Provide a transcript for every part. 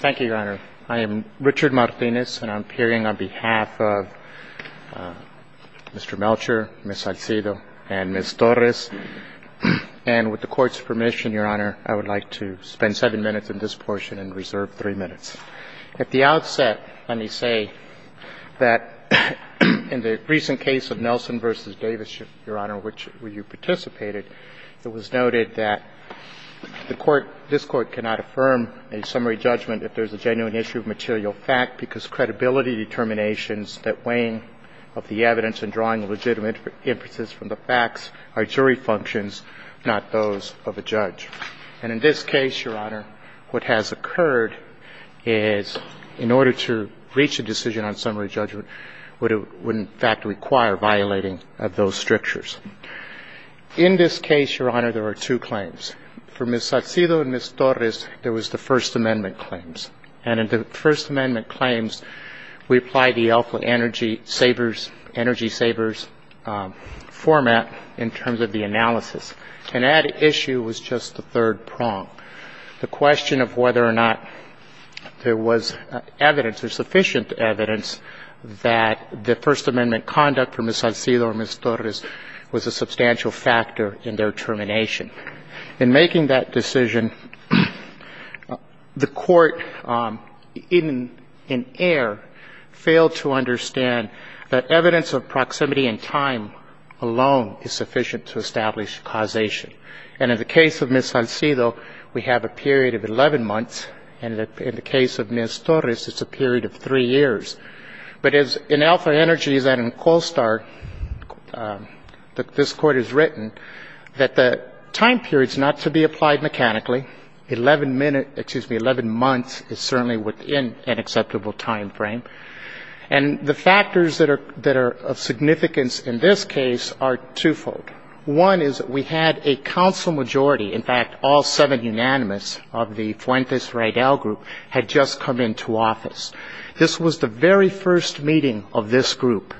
Thank you, Your Honor. I am Richard Martinez, and I'm appearing on behalf of Mr. Melcher, Ms. Salcido, and Ms. Torres. And with the Court's permission, Your Honor, I would like to spend seven minutes in this portion and reserve three minutes. At the outset, let me say that in the recent case of Nelson v. Davis, Your Honor, which you participated, it was noted that the Court – this Court cannot affirm a summary judgment if there's a genuine issue of material fact because credibility determinations that weigh in of the evidence and drawing legitimate inferences from the facts are jury functions, not those of a judge. And in this case, Your Honor, what has occurred is in order to reach a decision on summary judgment, it would in fact require violating of those strictures. In this case, Your Honor, there are two claims. For Ms. Salcido and Ms. Torres, there was the First Amendment claims. And in the First Amendment claims, we apply the Elkwood Energy Savers – Energy Savers format in terms of the analysis. And that issue was just the third prong. The question of whether or not there was evidence, or sufficient evidence, that the case of Ms. Salcido or Ms. Torres was a substantial factor in their termination. In making that decision, the Court in air failed to understand that evidence of proximity in time alone is sufficient to establish causation. And in the case of Ms. Salcido, we have a period of 11 months. And in the case of Ms. Torres, it's a period of three years. But as in Elkwood Energy, as in CoalSTAR, this Court has written, that the time period is not to be applied mechanically. Eleven months is certainly within an acceptable time frame. And the factors that are of significance in this case are twofold. One is that we had a counsel majority. In fact, all seven unanimous of the Fuentes-Reydal Group had just come into office. This was the very first meeting of this group.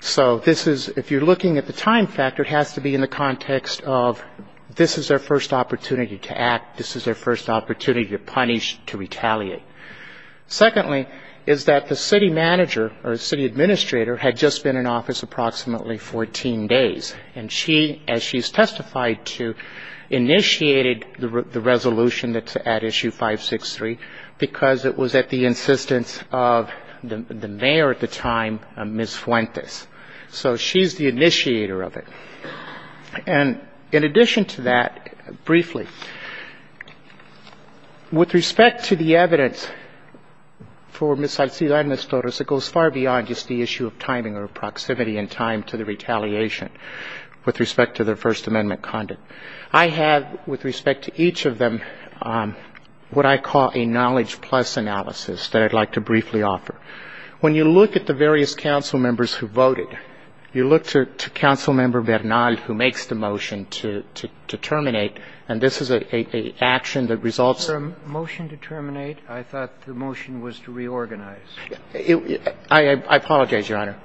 So this is, if you're looking at the time factor, it has to be in the context of this is their first opportunity to act, this is their first opportunity to punish, to retaliate. Secondly, is that the city manager, or city administrator, had just been in office approximately 14 days. And she, as she's testified to, initiated the resolution at issue 563 because it was at the insistence of the mayor at the time, Ms. Fuentes. So she's the initiator of it. And in addition to that, briefly, with respect to the evidence for Ms. Salcida and Ms. Torres, it goes far beyond just the issue of timing or proximity in time to the retaliation with respect to their First Amendment conduct. I have, with respect to each of them, what I call a knowledge-plus analysis that I'd like to briefly offer. When you look at the various council members who voted, you look to Council Member Bernal, who makes the motion to terminate, and this is an action that results in the elimination of six positions. I apologize, Your Honor.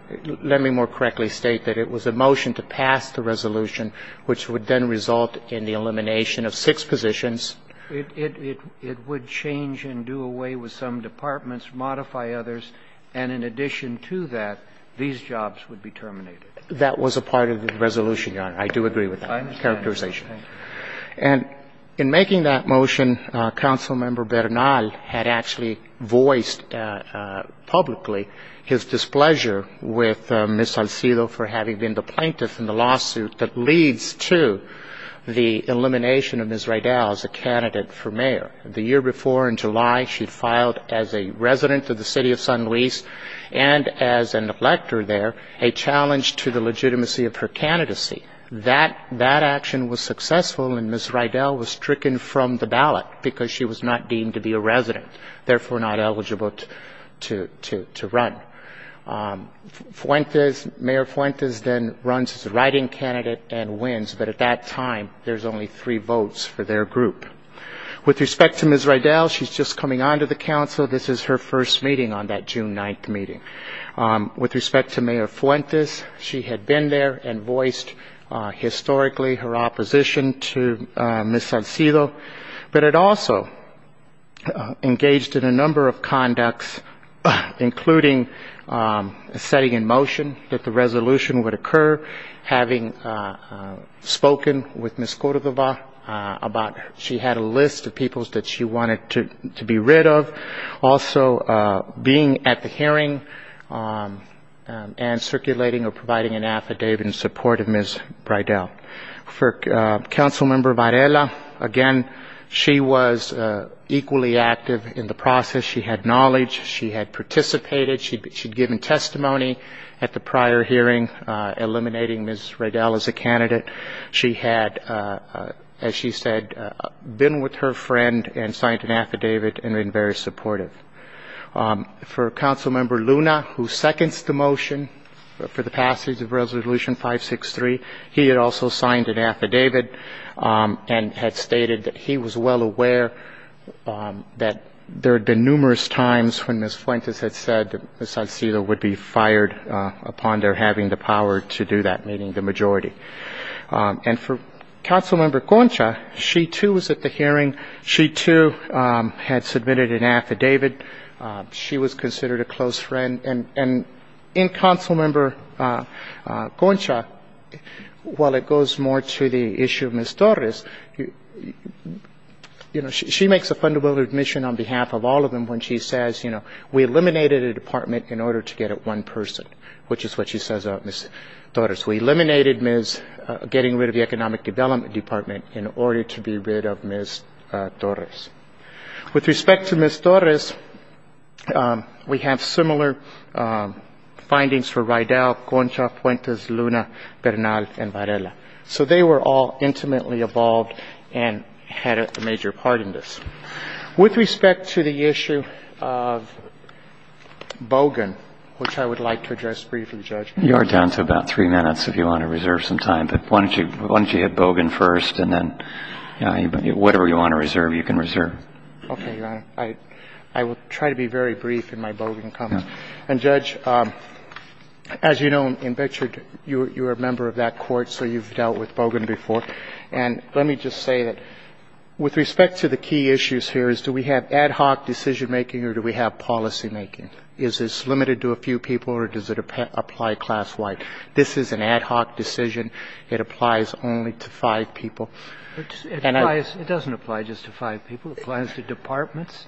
Let me more correctly state that it was a motion to pass the resolution, which would then result in the elimination of six positions. It would change and do away with some departments, modify others, and in addition to that, these jobs would be terminated. That was a part of the resolution, Your Honor. I do agree with that characterization. And in making that motion, Council Member Bernal had actually voiced publicly his displeasure with Ms. Salcida for having been the plaintiff in the lawsuit that she had filed against her candidate for mayor. The year before, in July, she filed as a resident of the city of San Luis and as an elector there, a challenge to the legitimacy of her candidacy. That action was successful, and Ms. Rydell was stricken from the ballot because she was not deemed to be a resident, therefore not eligible to run. Mayor Fuentes then runs as a write-in candidate and wins, but at that time, there's only three votes for their group. With respect to Ms. Rydell, she's just coming on to the Council. This is her first meeting on that June 9th meeting. With respect to Mayor Fuentes, she had been there and voiced historically her opposition to Ms. Salcida, but had also engaged in a number of conducts, including setting in motion that the resolution would occur, having spoken with Ms. Cordova about she had a list of people that she wanted to be rid of, also being at the hearing and circulating or providing an affidavit in support of Ms. Rydell. For Council Member Varela, again, she was equally active in the process. She had knowledge, she had participated, she'd given testimony at the prior hearing eliminating Ms. Rydell as a candidate. She had, as she said, been with her friend and signed an affidavit and been very supportive. For Council Member Luna, who seconds the motion for the passage of Resolution 563, he had also signed an affidavit and had stated that he was well aware that there had been numerous times when Ms. Fuentes had said that Ms. Salcida would be fired upon their having the power to do that, meaning the majority. And for Council Member Concha, she, too, was at the hearing. She, too, had submitted an affidavit. She was considered a close friend. And in Council Member Concha, while it goes more to the issue of Ms. Torres, you know, she makes a fundamental admission on behalf of all of them when she says, you know, we eliminated a department in order to get at one person, which is what she says about Ms. Torres. We eliminated Ms. getting rid of the Economic Development Department in order to be rid of Ms. Torres. With respect to Ms. Torres, we have similar findings for Rydell, Concha, Fuentes, Luna, Bernal, and Varela. So they were all intimately involved and had a major part in this. With respect to the issue of Bogan, which I would like to address briefly, Judge. You are down to about three minutes if you want to reserve some time. But why don't you hit Bogan first, and then whatever you want to reserve, you can reserve. Okay, Your Honor. I will try to be very brief in my Bogan comment. Okay. And, Judge, as you know, in Betcher, you are a member of that court, so you've dealt with Bogan before. And let me just say that with respect to the key issues here is do we have ad hoc decision-making or do we have policymaking? Is this limited to a few people or does it apply class-wide? This is an ad hoc decision. It applies only to five people. It applies to departments,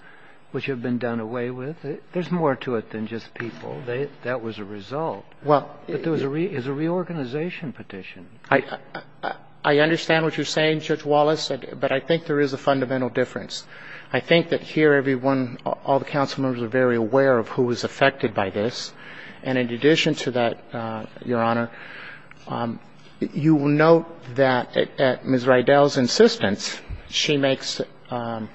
which have been done away with. There's more to it than just people. That was a result. But there is a reorganization petition. I understand what you're saying, Judge Wallace, but I think there is a fundamental difference. I think that here everyone, all the council members are very aware of who is affected by this. And in addition to that, Your Honor, you will note that at Ms. Rydell's insistence, she makes an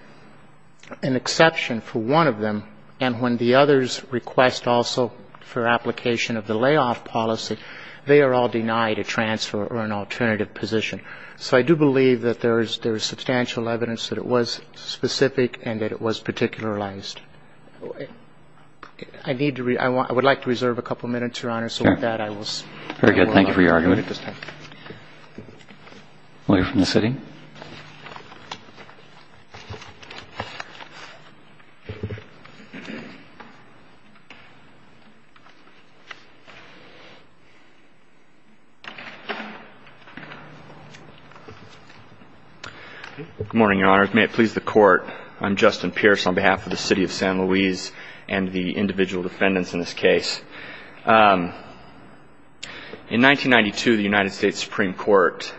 exception for one of them, and when the others request also for application of the layoff policy, they are all denied a transfer or an alternative position. So I do believe that there is substantial evidence that it was specific and that it was particularized. I would like to reserve a couple minutes, Your Honor, so with that I will stop. I have re-argumented this time. Lawyer from the city. Good morning, Your Honor. May it please the Court, I'm Justin Pierce on behalf of the City of San Luis and the individual defendants in this case. In 1992, the United States Supreme Court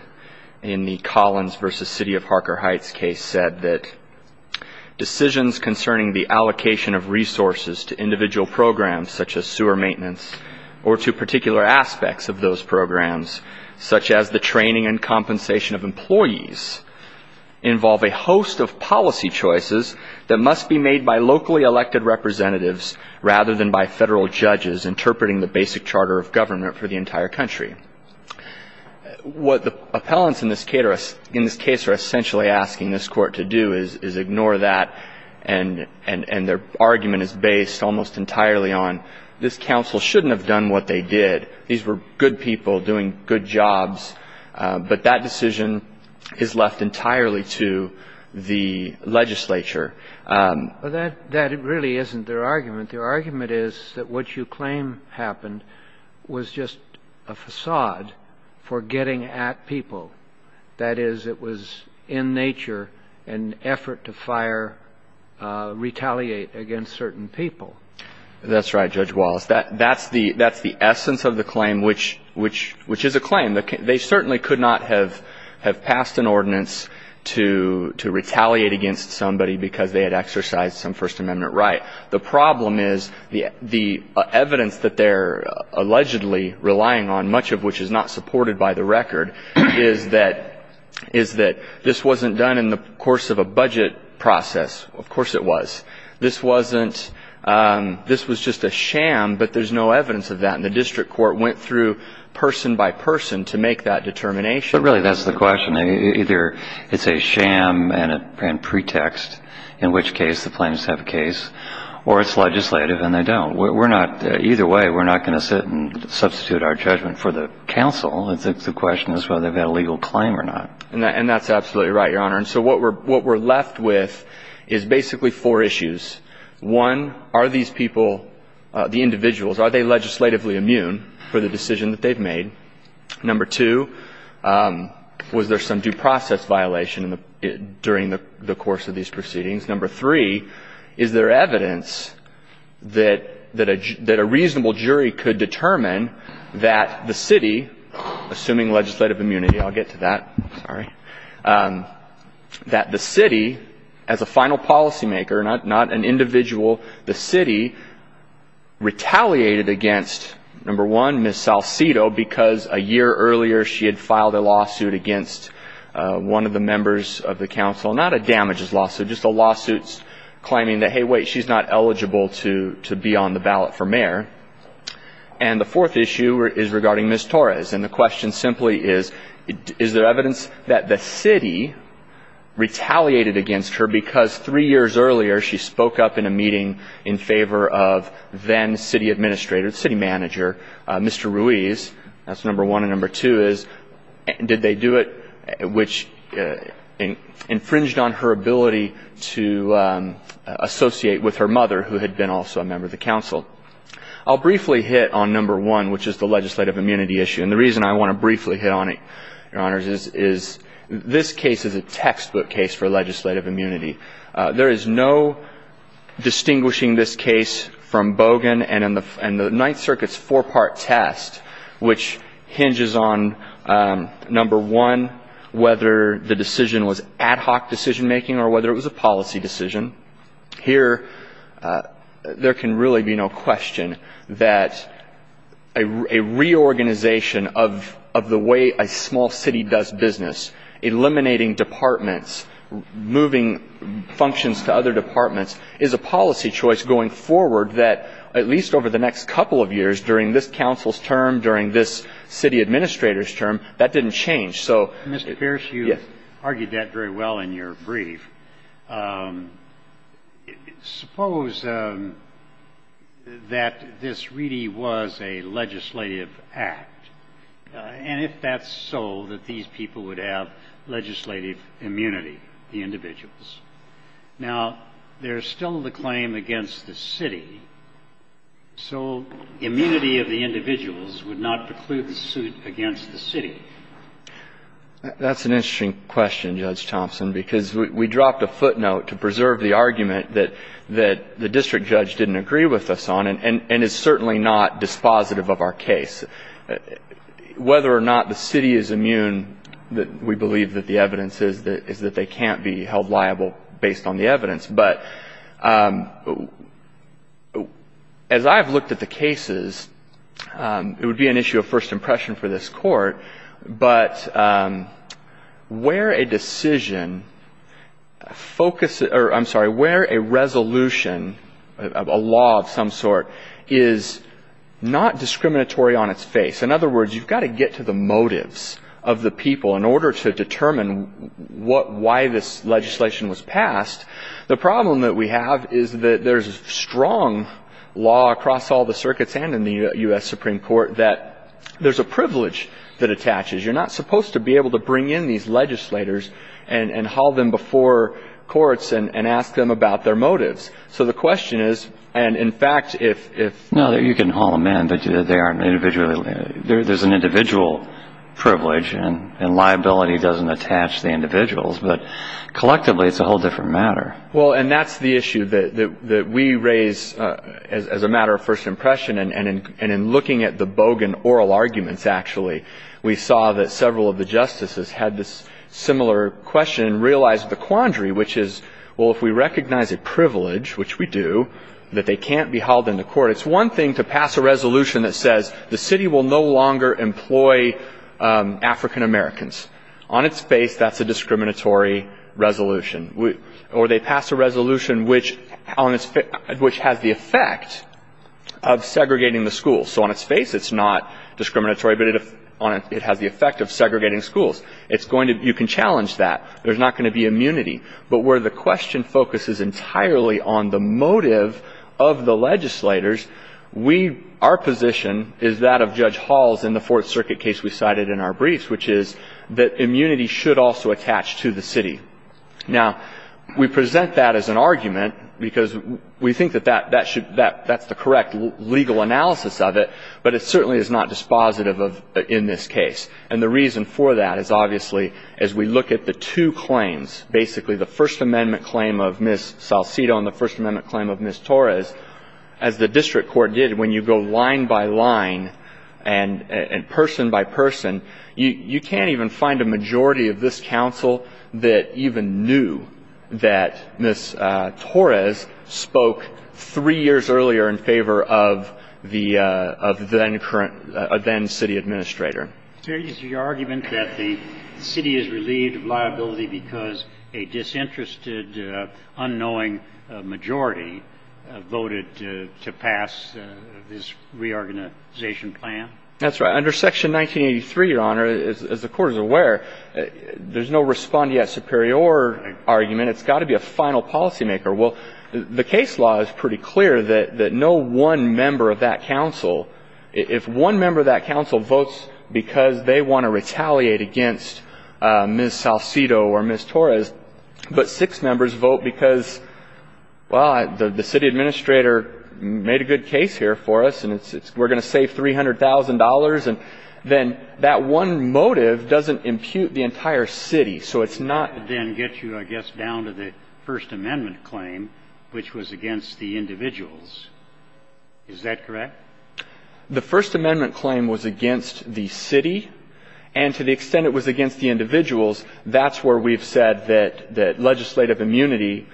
in the Collins v. City of Harker Heights case said that decisions concerning the allocation of resources to individual programs such as sewer maintenance or to particular aspects of those programs, such as the training and compensation of employees, involve a host of policy choices that must be made by locally local judges interpreting the basic charter of government for the entire country. What the appellants in this case are essentially asking this Court to do is ignore that and their argument is based almost entirely on this counsel shouldn't have done what they did. These were good people doing good jobs, but that decision is left entirely to the legislature. But that really isn't their argument. Their argument is that what you claim happened was just a facade for getting at people. That is, it was in nature an effort to fire, retaliate against certain people. That's right, Judge Wallace. That's the essence of the claim, which is a claim. They certainly could not have passed an ordinance to retaliate against somebody because they had exercised some First Amendment right. The problem is the evidence that they're allegedly relying on, much of which is not supported by the record, is that this wasn't done in the course of a budget process. Of course it was. This was just a sham, but there's no evidence of that. The District Court went through person by person to make that determination. But really that's the question. Either it's a sham and pretext, in which case the claims have a case, or it's legislative and they don't. Either way, we're not going to sit and substitute our judgment for the counsel. The question is whether they've had a legal claim or not. And that's absolutely right, Your Honor. And so what we're left with is basically four issues. One, are these people, the individuals, are they legislatively immune for the decision that they've made? Number two, was there some due process violation during the course of these proceedings? Number three, is there evidence that a reasonable jury could determine that the city, assuming legislative immunity, I'll get to that, sorry, that the city, as a final policymaker, not an individual, the city retaliated against, number one, Ms. Salcedo because a year earlier she had filed a lawsuit against one of the members of the council. Not a damages lawsuit, just a lawsuit claiming that, hey, wait, she's not eligible to be on the ballot for mayor. And the fourth issue is regarding Ms. Torres. And the question simply is, is there evidence that the city retaliated against her because three years earlier she spoke up in a meeting in favor of then city administrator, city manager, Mr. Ruiz. That's number one. And number two is, did they do it, which infringed on her ability to associate with her mother, who had been also a member of the council. I'll briefly hit on number one, which is the legislative immunity issue. And the reason I want to briefly hit on it, Your Honors, is this case is a textbook case for legislative immunity. There is no distinguishing this case from Bogan and the Ninth Circuit's four-part test, which hinges on, number one, whether the decision was ad hoc decision making or whether it was a policy decision. Here, there can really be no question that a reorganization of the way a small city does business, eliminating departments, moving functions to other departments, is a policy choice going forward that, at least over the next couple of years, during this council's term, during this city administrator's term, that didn't change. So, yes. Roberts. Mr. Pierce, you argued that very well in your brief. Suppose that this really was a legislative act, and if that's so, that these people would have legislative immunity, the individuals. Now, there's still the claim against the city. So immunity of the individuals would not preclude the suit against the city. That's an interesting question, Judge Thompson, because we dropped a footnote to preserve the argument that the district judge didn't agree with us on and is certainly not dispositive of our case. Whether or not the city is immune, we believe that the evidence is that they can't be held liable based on the evidence. But as I've looked at the cases, it would be an issue of first impression for this court, but where a decision focuses or, I'm sorry, where a resolution, a law of some sort, is not discriminatory on its face. In other words, you've got to get to the motives of the people in order to determine why this legislation was passed. The problem that we have is that there's strong law across all the circuits and in the U.S. Supreme Court that there's a privilege that attaches. You're not supposed to be able to bring in these legislators and haul them before courts and ask them about their motives. So the question is, and in fact, if – No, you can haul them in, but they aren't individually – there's an individual privilege, and liability doesn't attach to the individuals. But collectively, it's a whole different matter. Well, and that's the issue that we raise as a matter of first impression. And in looking at the Bogan oral arguments, actually, we saw that several of the justices had this similar question and realized the quandary, which is, well, if we recognize a privilege, which we do, that they can't be hauled into court, it's one thing to pass a resolution that says the city will no longer employ African-Americans. On its face, that's a discriminatory resolution. Or they pass a resolution which has the effect of segregating the schools. So on its face, it's not discriminatory, but it has the effect of segregating schools. It's going to – you can challenge that. There's not going to be immunity. But where the question focuses entirely on the motive of the legislators, we – our position is that of Judge Hall's in the Fourth Circuit case we cited in our briefs, which is that immunity should also attach to the city. Now, we present that as an argument because we think that that should – that's the correct legal analysis of it, but it certainly is not dispositive of – in this case. And the reason for that is, obviously, as we look at the two claims, basically the First Amendment claim of Ms. Salcido and the First Amendment claim of Ms. Torres, as the district court did, when you go line by line and person by person, you can't even find a majority of this counsel that even knew that Ms. Torres spoke three years earlier in favor of the – of the then current – a then city administrator. Is there any argument that the city is relieved of liability because a disinterested, unknowing majority voted to pass this reorganization plan? That's right. Under Section 1983, Your Honor, as the Court is aware, there's no respondeat superior argument. It's got to be a final policymaker. Well, the case law is pretty clear that no one member of that counsel – if one member of that counsel votes because they want to retaliate against Ms. Salcido or Ms. Torres, but six members vote because, well, the city administrator made a good case here for us, and we're going to save $300,000, and then that one motive doesn't impute the entire city. So it's not – Then get you, I guess, down to the First Amendment claim, which was against the individuals. Is that correct? The First Amendment claim was against the city. And to the extent it was against the individuals, that's where we've said that legislative immunity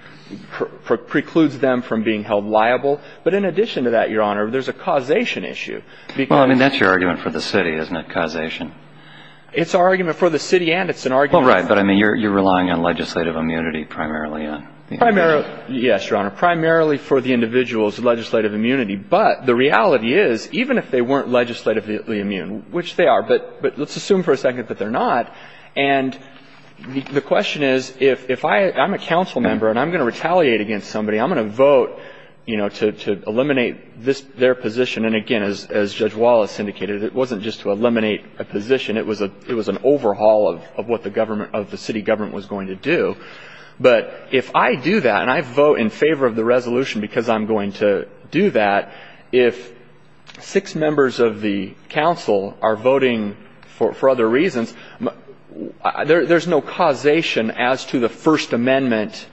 precludes them from being held liable. But in addition to that, Your Honor, there's a causation issue because – Well, I mean, that's your argument for the city, isn't it, causation? It's our argument for the city and it's an argument – Well, right. But, I mean, you're relying on legislative immunity primarily on the individuals. Primarily – yes, Your Honor. Primarily for the individuals, legislative immunity. But the reality is, even if they weren't legislatively immune, which they are, but let's assume for a second that they're not, and the question is, if I – I'm a counsel member and I'm going to retaliate against somebody, I'm going to vote, you know, to eliminate their position. And, again, as Judge Wallace indicated, it wasn't just to eliminate a position. It was an overhaul of what the city government was going to do. But if I do that and I vote in favor of the resolution because I'm going to do that, if six members of the counsel are voting for other reasons, there's no causation as to the First Amendment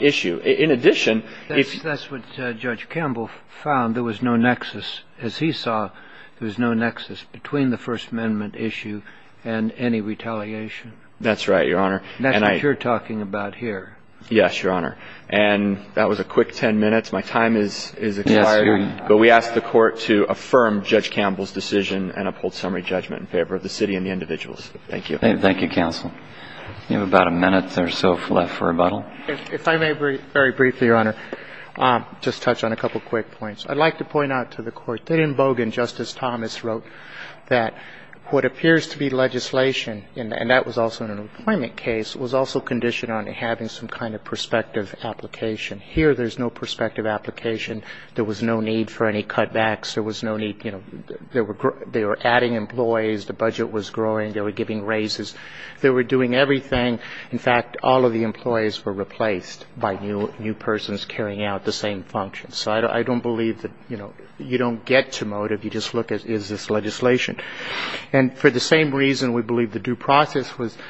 issue. In addition – That's what Judge Campbell found. There was no nexus. As he saw, there was no nexus between the First Amendment issue and any retaliation. That's right, Your Honor. And that's what you're talking about here. Yes, Your Honor. And that was a quick ten minutes. My time is expiring. But we ask the Court to affirm Judge Campbell's decision and uphold summary judgment in favor of the city and the individuals. Thank you. Thank you, counsel. You have about a minute or so left for rebuttal. If I may very briefly, Your Honor, just touch on a couple quick points. I'd like to point out to the Court that in Bogan, Justice Thomas wrote that what appears to be legislation, and that was also in an appointment case, was also conditioned on having some kind of prospective application. Here, there's no prospective application. There was no need for any cutbacks. There was no need – you know, they were adding employees. The budget was growing. They were giving raises. They were doing everything. In fact, all of the employees were replaced by new persons carrying out the same functions. So I don't believe that, you know, you don't get to motive. You just look at is this legislation. And for the same reason, we believe the due process was –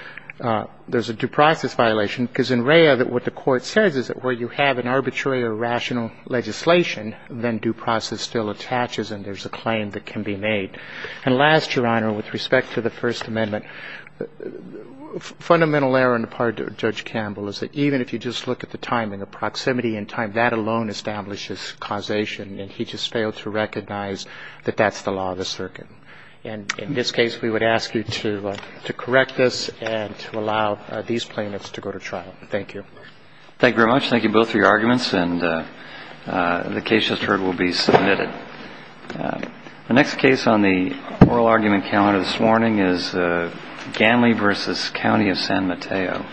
there's a due process violation, because in Rhea, what the Court says is that where you have an arbitrary or rational legislation, then due process still attaches and there's a claim that can be made. And last, Your Honor, with respect to the First Amendment, fundamental error on the part of Judge Campbell is that even if you just look at the timing, the proximity in time, that alone establishes causation, and he just failed to recognize that that's the law of the circuit. And in this case, we would ask you to correct this and to allow these plaintiffs to go to trial. Thank you. Thank you very much. Thank you both for your arguments. And the case, as heard, will be submitted. The next case on the oral argument calendar this morning is Ganley v. County of San Mateo.